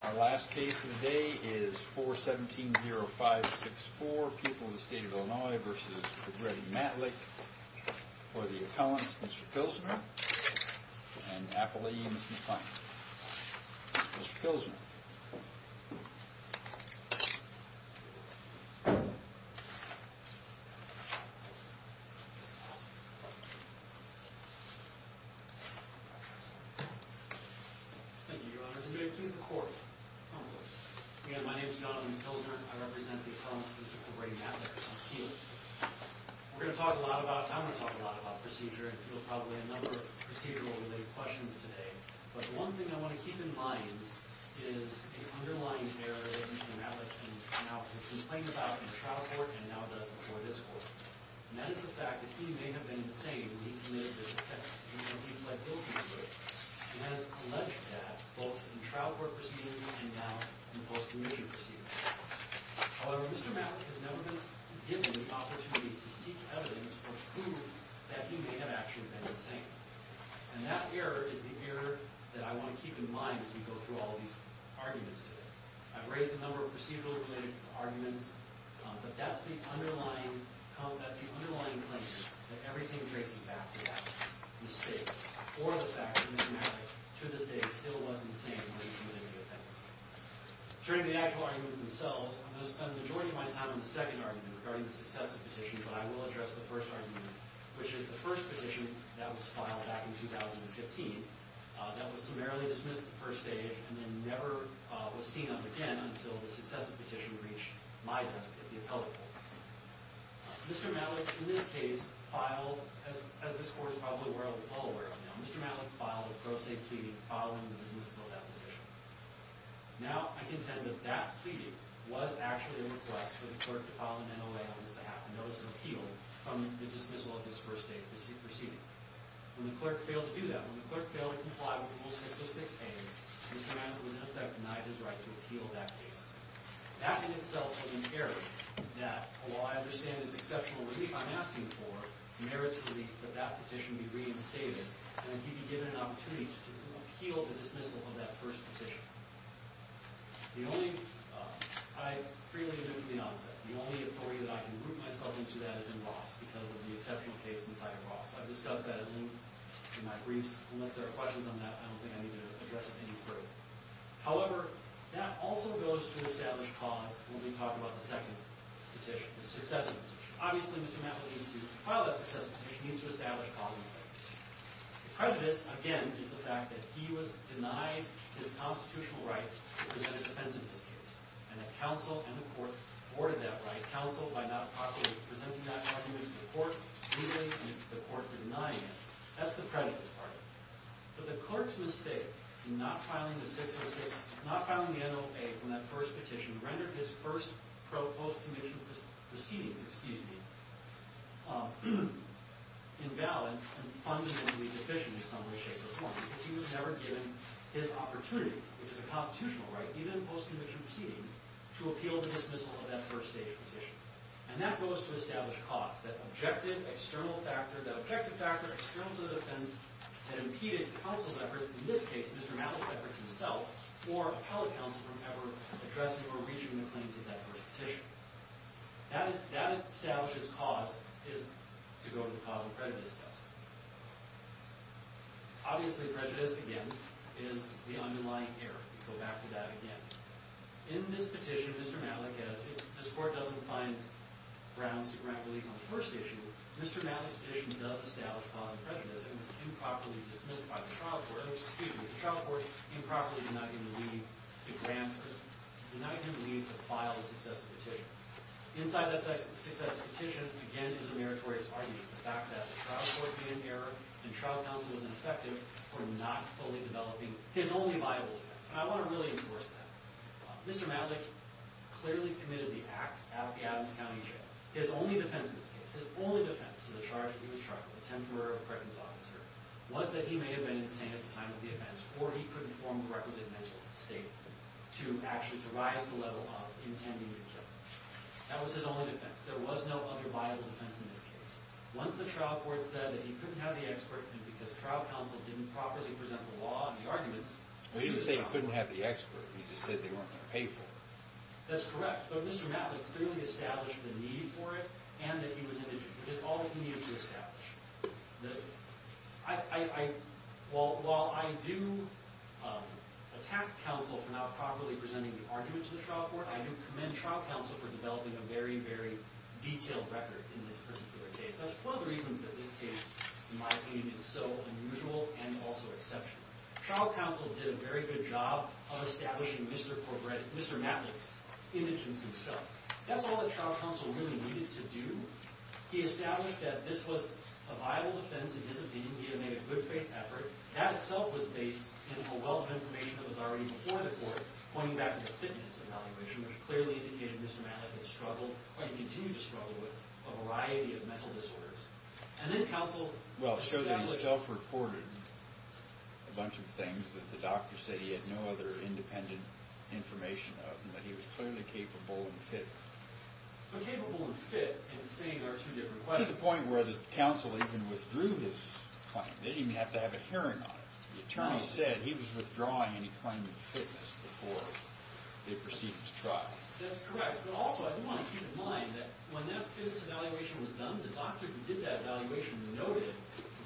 Our last case today is 4-17-05-6-4. People in the state of Illinois v. Greg Matlick for the appellant, Mr. Pilsner, and the appellee, Mr. McClain. Mr. Pilsner. Again, my name is Jonathan Pilsner. I represent the appellants, Mr. and Mrs. Greg Matlick and Mr. McClain. I'm going to talk a lot about procedure, and we'll probably have a number of procedural-related questions today. But one thing I want to keep in mind is an underlying error that Mr. Matlick can now complain about in the trial court and now does before this court. And that is the fact that he may have been saying, we committed these offenses. He has alleged that both in trial court proceedings and now in the post-commissioned proceedings. However, Mr. Matlick has never been given the opportunity to seek evidence or prove that he may have actually been insane. And that error is the error that I want to keep in mind as we go through all these arguments today. I've raised a number of procedural-related arguments, but that's the underlying claim that everything traces back to that mistake. Or the fact that Mr. Matlick, to this day, still was insane when he committed the offense. Turning to the actual arguments themselves, I'm going to spend the majority of my time on the second argument regarding the successive petition, but I will address the first argument, which is the first petition that was filed back in 2015 that was summarily dismissed at the first stage and then never was seen up again until the successive petition reached my desk at the appellate level. Mr. Matlick, in this case, filed, as this court is probably well aware of now, Mr. Matlick filed a pro se plea following the dismissal of that petition. Now I can say that that plea was actually a request for the clerk to file an NOA on his behalf, and that was an appeal from the dismissal of his first state proceeding. When the clerk failed to do that, when the clerk failed to comply with Rule 606a, Mr. Matlick was in effect denied his right to appeal that case. That in itself was an error that, while I understand there's exceptional relief I'm asking for, merits relief that that petition be reinstated and that he be given an opportunity to appeal the dismissal of that first petition. The only, I freely admit to the onset, the only authority that I can root myself into that is in Ross, because of the exceptional case inside of Ross. I've discussed that at length in my briefs. Unless there are questions on that, I don't think I need to address it any further. However, that also goes to establish cause when we talk about the second petition, the successive petition. Obviously, Mr. Matlick needs to file that successive petition. He needs to establish cause in the first petition. The prejudice, again, is the fact that he was denied his constitutional right to present a defense in this case, and that counsel and the court afforded that right. Counsel, by not properly presenting that argument to the court, legally, and the court denying it. But the court's mistake in not filing the 606, not filing the NOA from that first petition, rendered his first post-commissioned proceedings, excuse me, invalid and fundamentally deficient in some way, shape, or form. Because he was never given his opportunity, which is a constitutional right, even in post-commissioned proceedings, to appeal the dismissal of that first stage petition. And that goes to establish cause. That objective, external factor, that objective factor, external to the defense, that impeded counsel's efforts, in this case, Mr. Matlick's efforts himself, or appellate counsel from ever addressing or reaching the claims of that first petition. That establishes cause is to go to the causal prejudice test. Obviously, prejudice, again, is the underlying error. We can go back to that again. In this petition, Mr. Matlick, as this court doesn't find grounds to grant relief on the first issue, Mr. Matlick's petition does establish causal prejudice and was improperly dismissed by the trial court, excuse me, the trial court improperly denied him leave to file a successive petition. Inside that successive petition, again, is the meritorious argument. The fact that the trial court made an error and trial counsel was ineffective for not fully developing his only viable defense. And I want to really enforce that. Mr. Matlick clearly committed the act at the Adams County Jail. His only defense in this case, his only defense to the charge that he was charged with, a temporary apprentice officer, was that he may have been insane at the time of the offense or he couldn't form the requisite mental state to actually, to rise to the level of intending the jail. That was his only defense. There was no other viable defense in this case. Once the trial court said that he couldn't have the expert, and because trial counsel didn't properly present the law and the arguments, Well, you didn't say he couldn't have the expert. You just said they weren't going to pay for it. That's correct. But Mr. Matlick clearly established the need for it and that he was in it just all that he needed to establish. While I do attack counsel for not properly presenting the argument to the trial court, I do commend trial counsel for developing a very, very detailed record in this particular case. That's one of the reasons that this case, in my opinion, is so unusual and also exceptional. Trial counsel did a very good job of establishing Mr. Matlick's indigence himself. That's all that trial counsel really needed to do. He established that this was a viable defense in his opinion. He had made a good faith effort. That itself was based in a wealth of information that was already before the court, pointing back to the fitness evaluation, which clearly indicated Mr. Matlick had struggled or he continued to struggle with a variety of mental disorders. Well, it showed that he self-reported a bunch of things that the doctor said he had no other independent information of, and that he was clearly capable and fit. But capable and fit in saying there are two different questions. To the point where the counsel even withdrew his claim. They didn't even have to have a hearing on it. The attorney said he was withdrawing any claim of fitness before they proceeded to trial him. That's correct. Also, I do want to keep in mind that when that fitness evaluation was done, the doctor who did that evaluation noted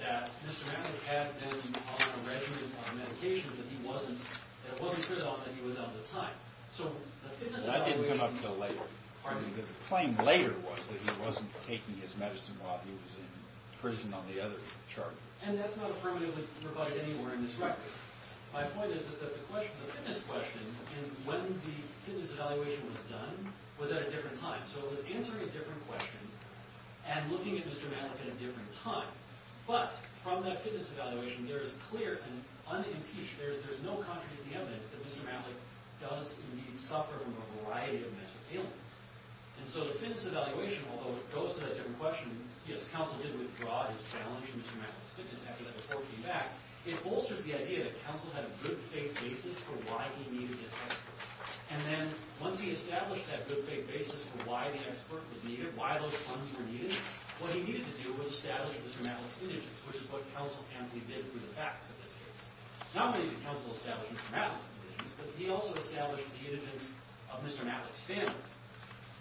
that Mr. Matlick had been on a regimen of medications that it wasn't true that he was out at the time. I didn't come up until later. The claim later was that he wasn't taking his medicine while he was in prison on the other chart. And that's not affirmatively provided anywhere in this record. My point is that the fitness question, when the fitness evaluation was done, was at a different time. So it was answering a different question and looking at Mr. Matlick at a different time. But from that fitness evaluation, there is clear and unimpeached, there is no contrary to the evidence that Mr. Matlick does indeed suffer from a variety of mental ailments. And so the fitness evaluation, although it goes to that different question, yes, counsel did withdraw his challenge to Mr. Matlick's fitness after that before he came back, it bolsters the idea that counsel had a good faith basis for why he needed this expert. And then once he established that good faith basis for why the expert was needed, why those funds were needed, what he needed to do was establish Mr. Matlick's indigence, which is what counsel amply did through the facts of this case. Not only did counsel establish Mr. Matlick's indigence, but he also established the indigence of Mr. Matlick's family.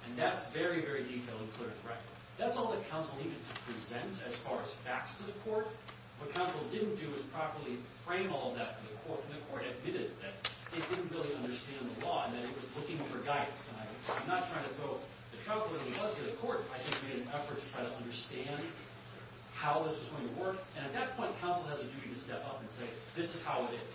And that's very, very detailed and clear and correct. That's all that counsel needed to present as far as facts to the court. What counsel didn't do was properly frame all of that for the court, and the court admitted that it didn't really understand the law and that it was looking for guidance. And I'm not trying to throw the truck where it was to the court. I think we made an effort to try to understand how this was going to work. And at that point, counsel has a duty to step up and say, this is how it is.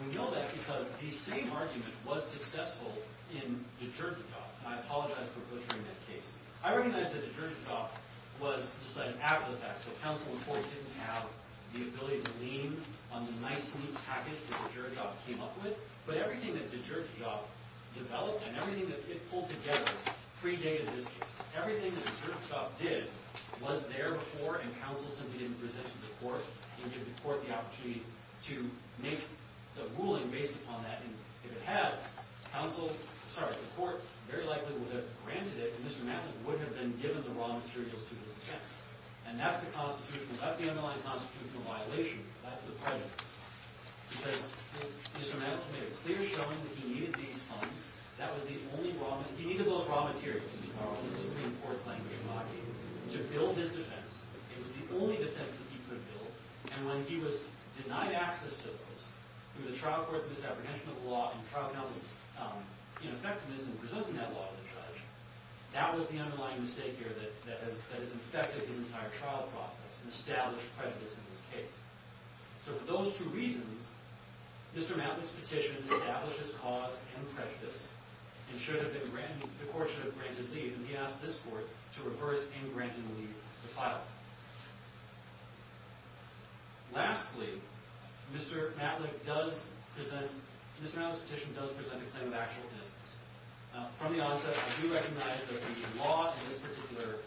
And we know that because the same argument was successful in Dijonjadoff. And I apologize for butchering that case. I recognize that Dijonjadoff was decided after the fact. So counsel, of course, didn't have the ability to lean on the nice, neat package that Dijonjadoff came up with. But everything that Dijonjadoff developed and everything that it pulled together predated this case. Everything that Dijonjadoff did was there before, and counsel simply didn't present to the court and give the court the opportunity to make the ruling based upon that. And if it had, the court very likely would have granted it. And Mr. Maddox would have been given the raw materials to his defense. And that's the underlying constitutional violation. That's the prejudice. Because if Mr. Maddox made a clear showing that he needed these funds, that was the only raw material. He needed those raw materials, in the Supreme Court's language, to build his defense. It was the only defense that he could build. And when he was denied access to those through the trial court's misapprehension of the law and trial counsel's ineffectiveness in presenting that law to the judge, that was the underlying mistake here that has infected his entire trial process and established prejudice in this case. So for those two reasons, Mr. Maddox's petition established his cause and prejudice and the court should have granted leave. And he asked this court to reverse and grant him leave to file. Lastly, Mr. Maddox's petition does present a claim of actual innocence. From the onset, I do recognize that the law in this particular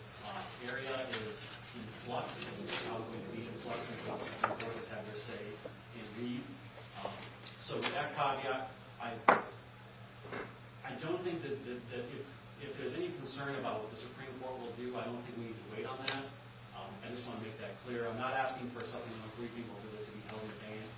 area is in flux and is probably going to be in flux until Supreme Court has had their say in leave. So with that caveat, I don't think that if there's any concern about what the Supreme Court will do, I don't think we need to wait on that. I just want to make that clear. I'm not asking for something on the free people for this to be held in advance.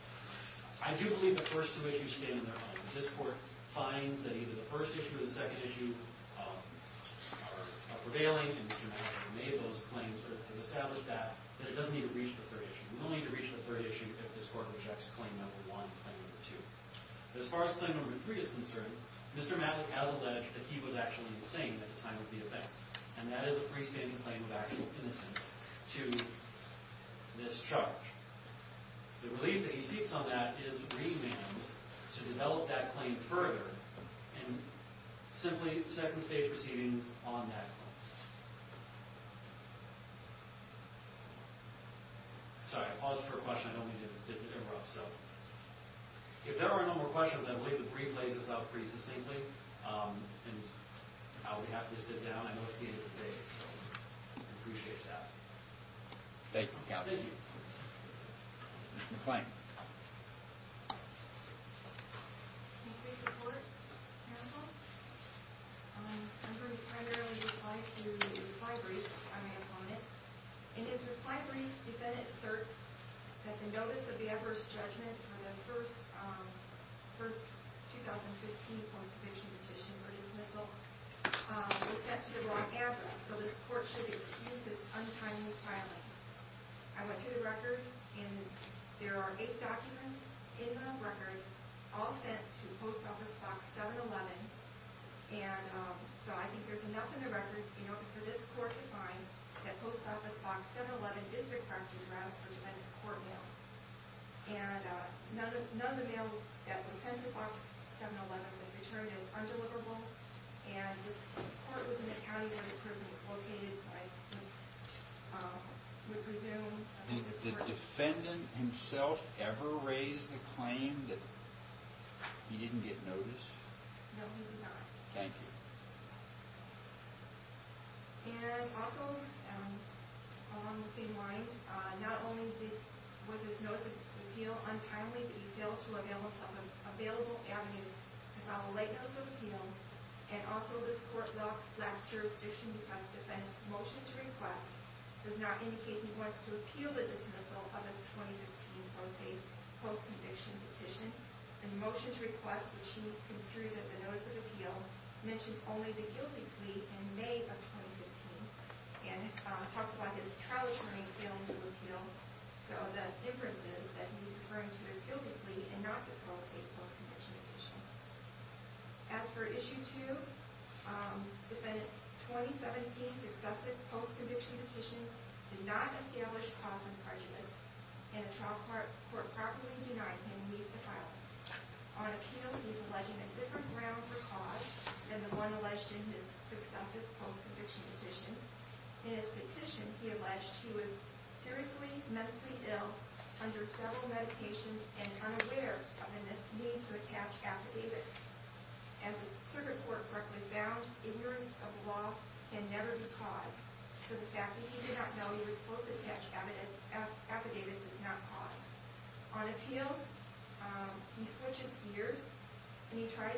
I do believe the first two issues stand on their own. If this court finds that either the first issue or the second issue are prevailing, and Mr. Maddox has made those claims or has established that, then it doesn't need to reach the third issue. It will need to reach the third issue if this court rejects claim number one and number two. But as far as claim number three is concerned, Mr. Maddox has alleged that he was actually insane at the time of the events, and that is a freestanding claim of actual innocence to this charge. The relief that he seeks on that is remand to develop that claim further and simply second-stage proceedings on that claim. Sorry, I paused for a question. I don't mean to interrupt. So if there are no more questions, I believe the brief lays this out pretty succinctly. And now we have to sit down. I know it's the end of the day, so I appreciate that. Thank you. Thank you. Mr. McClain. Can you please report, counsel? I'm going to primarily reply to the reply brief on my opponent. In his reply brief, the defendant asserts that the notice of the adverse judgment for the first 2015 post-conviction petition for dismissal was sent to the wrong address, so this court should excuse its untimely filing. I went through the record, and there are eight documents in the record, all sent to Post Office Box 711. So I think there's enough in the record for this court to find that Post Office Box 711 is the correct address for the defendant's court mail. None of the mail that was sent to Box 711 was returned as undeliverable, and this court was in the county where the prison was located, so I would presume. Did the defendant himself ever raise the claim that he didn't get notice? No, he did not. Thank you. And also, along the same lines, not only was his notice of appeal untimely, but he failed to avail himself of available avenues to file a late notice of appeal, and also this court's last jurisdiction defense motion to request does not indicate he wants to appeal the dismissal of his 2015 post-conviction petition. The motion to request, which he construes as a notice of appeal, mentions only the guilty plea in May of 2015, and talks about his trial attorney failing to appeal. So the inference is that he's referring to his guilty plea and not the pro se post-conviction petition. As for Issue 2, defendant's 2017 successive post-conviction petition did not establish cause of prejudice, and the trial court properly denied him need to file it. On appeal, he's alleging a different ground for cause than the one alleged in his successive post-conviction petition. In his petition, he alleged he was seriously mentally ill, under several medications, and unaware of the need to attach affidavits. As the circuit court correctly found, ignorance of law can never be cause, so the fact that he did not know he was supposed to attach affidavits is not cause. On appeal, he switches gears, and he's trying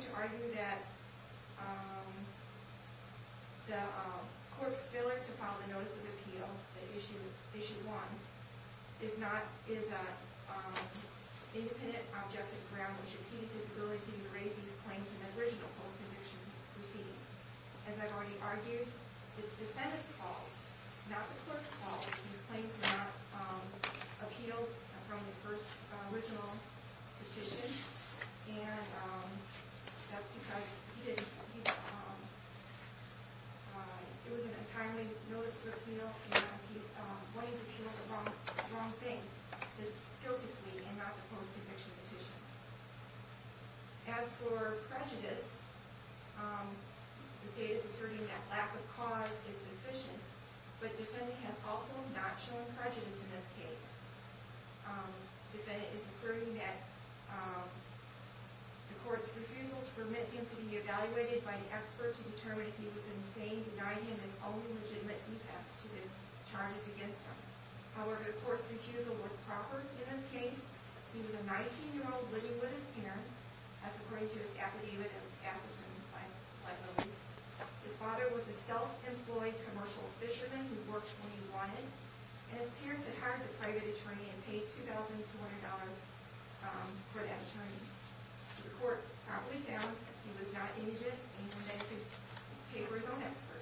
to argue that the court's failure to file the notice of appeal, Issue 1, is an independent, objective ground, which impedes his ability to raise his claims in the original post-conviction proceedings. As I've already argued, it's defendant's fault, not the court's fault, that he's claiming to have appealed from the first original petition, and that's because he didn't. It was an untimely notice of appeal, and he's going to appeal the wrong thing, the guilty plea, and not the post-conviction petition. As for prejudice, the state is asserting that lack of cause is sufficient, but defendant has also not shown prejudice in this case. Defendant is asserting that the court's refusal to permit him to be evaluated by an expert to determine if he was insane denied him his own legitimate defects to the charges against him. However, the court's refusal was proper in this case. He was a 19-year-old living with his parents, as according to his affidavit and facets in the plea. His father was a self-employed commercial fisherman who worked when he wanted, and his parents had hired a private attorney and paid $2,200 for that attorney. The court promptly found that he was not an agent, and he went back to papers on experts.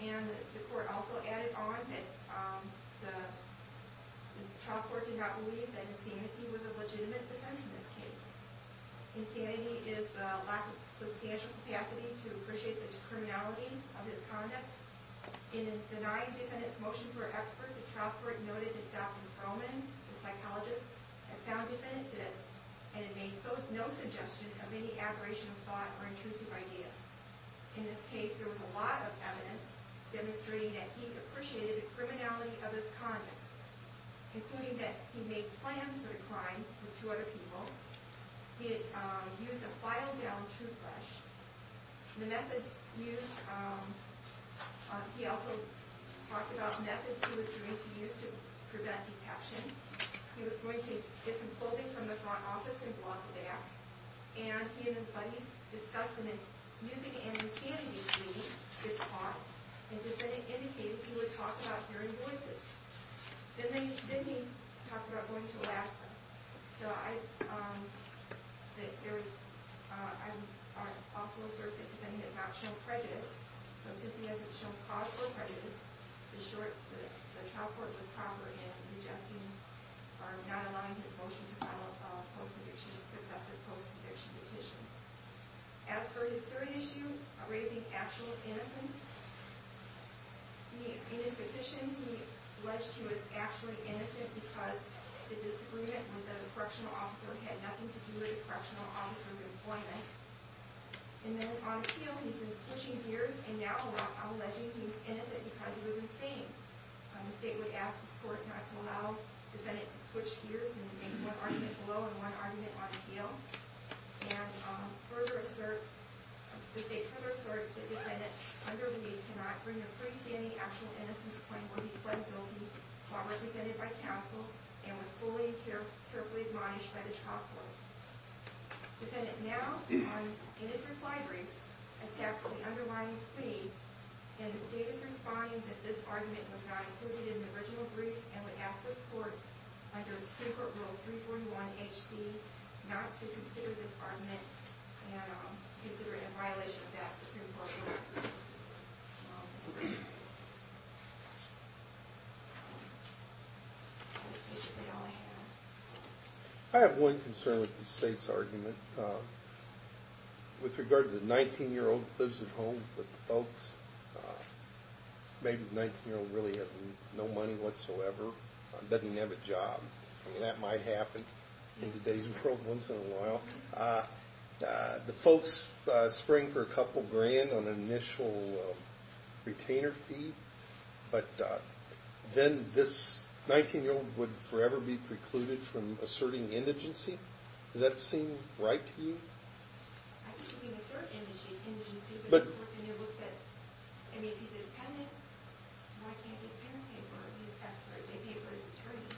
And the court also added on that the trial court did not believe that insanity was a legitimate defense in this case. Insanity is a lack of substantial capacity to appreciate the criminality of his conduct. In denying defendant's motion for expert, the trial court noted that Dr. Perlman, the psychologist, had found defendant fit, and had made no suggestion of any aberration of thought or intrusive ideas. In this case, there was a lot of evidence demonstrating that he appreciated the criminality of his conduct, including that he made plans for the crime with two other people. He had used a filedown toothbrush. The methods used... He also talked about methods he was going to use to prevent detection. He was going to get some clothing from the front office and walk there. And he and his buddies discussed him using a hand-me-candy machine, and defendant indicated he would talk about hearing voices. Then he talked about going to Alaska. So I also assert that defendant did not show prejudice. So since he hasn't shown cause for prejudice, the trial court was proper in rejecting or not allowing his motion to file a successive post-conviction petition. As for his third issue, raising actual innocence, in his petition, he alleged he was actually innocent because the disagreement with the correctional officer had nothing to do with the correctional officer's employment. And then on appeal, he's been switching gears and now alleging he was innocent because he was insane. The state would ask the court not to allow defendant to switch gears and make one argument below and one argument on appeal. And the state further asserts that defendant under the deed cannot bring a freestanding actual innocence claim or be fled guilty while represented by counsel and was fully and carefully admonished by the trial court. Defendant now, in his reply brief, attacks the underlying plea, and the state is responding that this argument was not included in the original brief and would ask the court under Supreme Court Rule 341HC not to consider this argument and consider it in violation of that Supreme Court rule. I have one concern with the state's argument. With regard to the 19-year-old who lives at home with the folks, maybe the 19-year-old really has no money whatsoever, doesn't have a job. I mean, that might happen in today's world once in a while. The folks spring for a couple grand on an initial retainer fee, but then this 19-year-old would forever be precluded from asserting indigency. Does that seem right to you? I think you can assert indigency, but the report in there looks at, I mean, if he's a defendant, why can't his parent pay for it? Maybe it was attorney.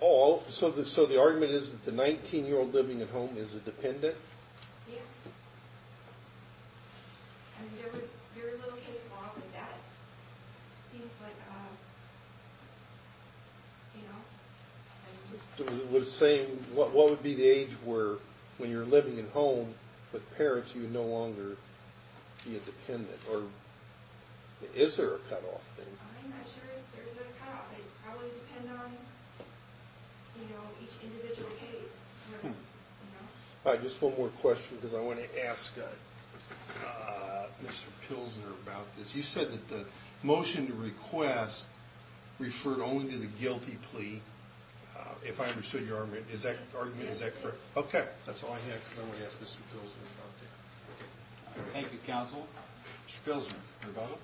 Oh, so the argument is that the 19-year-old living at home is a dependent? Yes. I mean, there was very little case law with that. It seems like, you know. It was saying what would be the age where, when you're living at home with parents, you would no longer be a dependent, or is there a cutoff? I'm not sure if there's a cutoff. They probably depend on each individual case. All right, just one more question, because I want to ask Mr. Pilsner about this. You said that the motion to request referred only to the guilty plea, if I understood your argument. Is that correct? Yes. Okay, that's all I have, because I want to ask Mr. Pilsner about that. Thank you, counsel. Mr. Pilsner, your vote.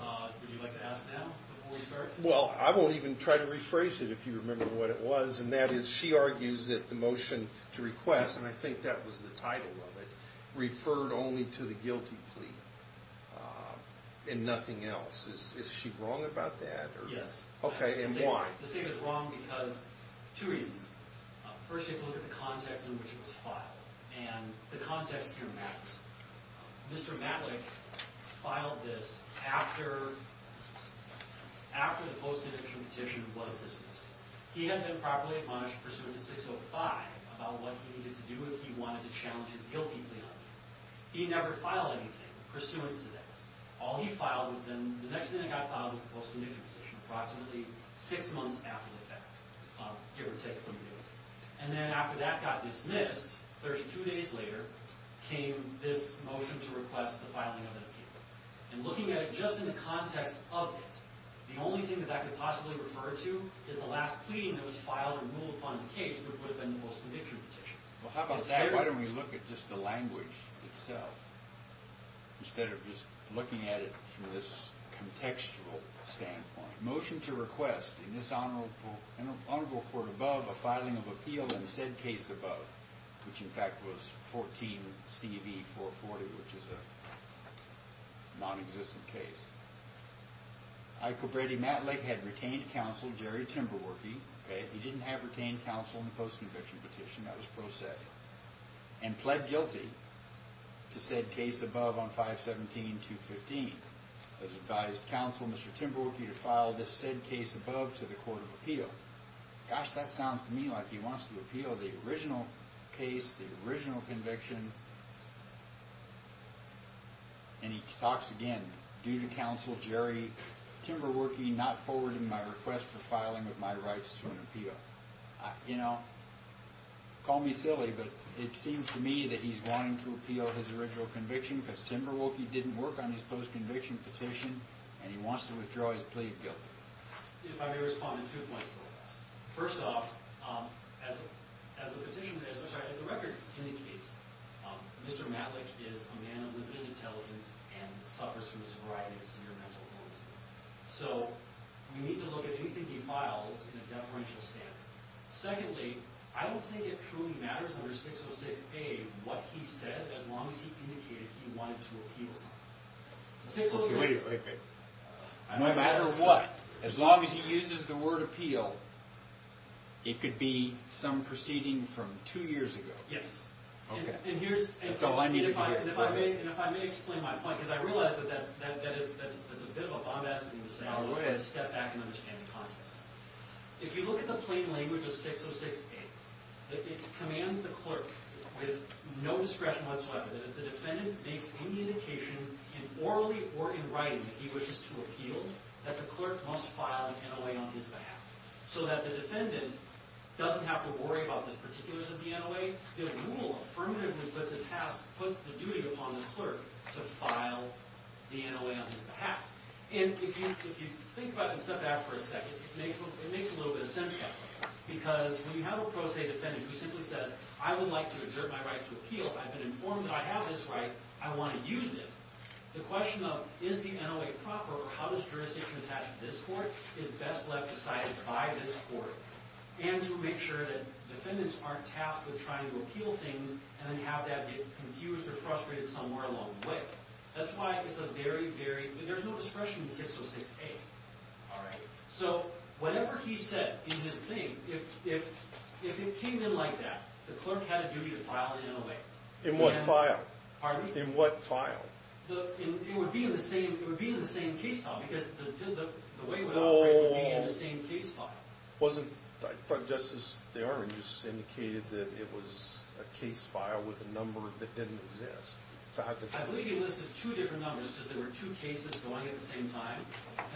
Would you like to ask now before we start? Well, I won't even try to rephrase it if you remember what it was, and that is she argues that the motion to request, and I think that was the title of it, referred only to the guilty plea and nothing else. Is she wrong about that? Yes. Okay, and why? This thing is wrong because of two reasons. First, you have to look at the context in which it was filed, and the context here matters. Mr. Matlick filed this after the postmortem petition was dismissed. He had been properly admonished pursuant to 605 about what he needed to do if he wanted to challenge his guilty plea argument. He never filed anything pursuant to that. All he filed was then the next thing that got filed was the postconviction petition, approximately six months after the fact, give or take 20 days. And then after that got dismissed, 32 days later came this motion to request the filing of an appeal. And looking at it just in the context of it, the only thing that that could possibly refer to is the last plea that was filed to rule upon the case that would have been the postconviction petition. Well, how about that? Why don't we look at just the language itself instead of just looking at it from this contextual standpoint? Motion to request in this honorable court above a filing of appeal in said case above, which in fact was 14-CV-440, which is a nonexistent case. Michael Brady Matlick had retained counsel Jerry Timberwerke. He didn't have retained counsel in the postconviction petition. That was pro se. And pled guilty to said case above on 517-215. Has advised counsel Mr. Timberwerke to file this said case above to the court of appeal. Gosh, that sounds to me like he wants to appeal the original case, the original conviction. And he talks again, due to counsel Jerry Timberwerke not forwarding my request for filing of my rights to an appeal. You know, call me silly, but it seems to me that he's wanting to appeal his original conviction because Timberwerke didn't work on his postconviction petition and he wants to withdraw his plea of guilt. If I may respond to two points real fast. First off, as the record indicates, Mr. Matlick is a man of limited intelligence and suffers from a variety of severe mental illnesses. So we need to look at anything he files in a deferential standard. Secondly, I don't think it truly matters under 606-A what he said as long as he indicated he wanted to appeal something. Wait, wait, wait. No matter what, as long as he uses the word appeal, it could be some proceeding from two years ago. Yes. Okay. That's all I need to hear. And if I may explain my point, because I realize that's a bit of a bombastic thing to say, I want you to step back and understand the context. If you look at the plain language of 606-A, it commands the clerk with no discretion whatsoever that if the defendant makes any indication in orally or in writing that he wishes to appeal, that the clerk must file the NOA on his behalf. So that the defendant doesn't have to worry about the particulars of the NOA, the rule affirmatively puts the duty upon the clerk to file the NOA on his behalf. And if you think about it and step back for a second, it makes a little bit of sense now. Because when you have a pro se defendant who simply says, I would like to exert my right to appeal. I've been informed that I have this right. I want to use it. The question of is the NOA proper or how does jurisdiction attach to this court is best left decided by this court. And to make sure that defendants aren't tasked with trying to appeal things and then have that get confused or frustrated somewhere along the way. That's why it's a very, very, there's no discretion in 606-A. So whatever he said in his thing, if it came in like that, the clerk had a duty to file the NOA. In what file? Pardon me? In what file? It would be in the same case file. Because the way it would operate would be in the same case file. Wasn't, just as they are, you just indicated that it was a case file with a number that didn't exist. I believe he listed two different numbers because there were two cases going at the same time.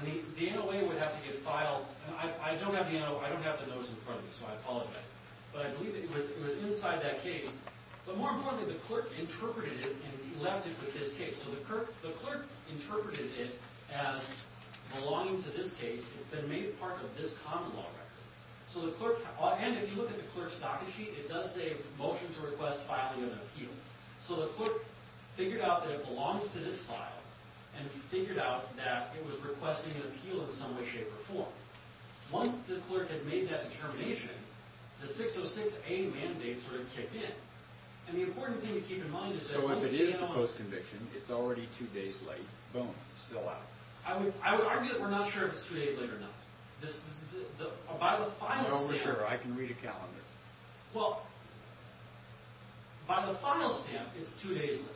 And the NOA would have to get filed. I don't have the NOA, I don't have the notice in front of me, so I apologize. But I believe it was inside that case. But more importantly, the clerk interpreted it and left it with this case. So the clerk interpreted it as belonging to this case. It's been made part of this common law record. So the clerk, and if you look at the clerk's docket sheet, it does say motion to request filing of an appeal. So the clerk figured out that it belonged to this file and figured out that it was requesting an appeal in some way, shape, or form. Once the clerk had made that determination, the 606A mandate sort of kicked in. And the important thing to keep in mind is that once you get on... So if it is proposed conviction, it's already two days late, boom, still out. I would argue that we're not sure if it's two days late or not. By the file stamp... I don't know for sure. I can read a calendar. Well, by the file stamp, it's two days late.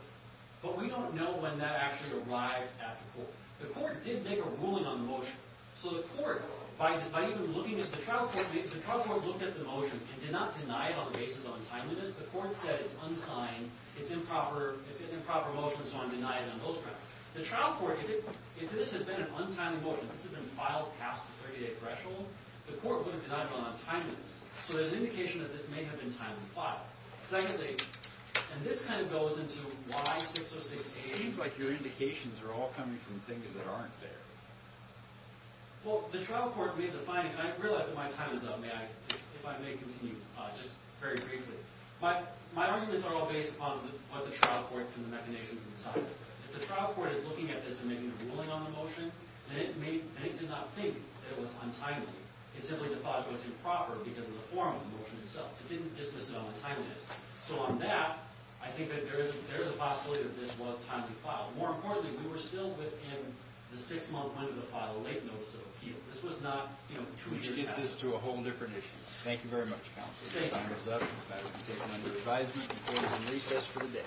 But we don't know when that actually arrived at the court. The court did make a ruling on the motion. So the court, by even looking at the trial court, the trial court looked at the motion and did not deny it on the basis of untimeliness. The court said it's unsigned, it's improper, it's an improper motion, so I'm denying it on those grounds. The trial court, if this had been an untimely motion, if this had been filed past the 30-day threshold, the court wouldn't have denied it on untimeliness. So there's an indication that this may have been timely filed. Secondly, and this kind of goes into why 606A... It seems like your indications are all coming from things that aren't there. Well, the trial court made the finding, and I realize that my time is up. If I may continue, just very briefly. My arguments are all based upon what the trial court, from the definitions inside it. If the trial court is looking at this and making a ruling on the motion, then it did not think that it was untimely. It simply thought it was improper because of the form of the motion itself. It didn't dismiss it on untimeliness. So on that, I think that there is a possibility that this was timely filed. More importantly, we were still within the six-month window to file a late notice of appeal. This was not, you know, two years past. Which gets us to a whole different issue. Thank you very much, counsel. Thank you. Your time is up. You have been taken under advisement. The court is in recess for the day.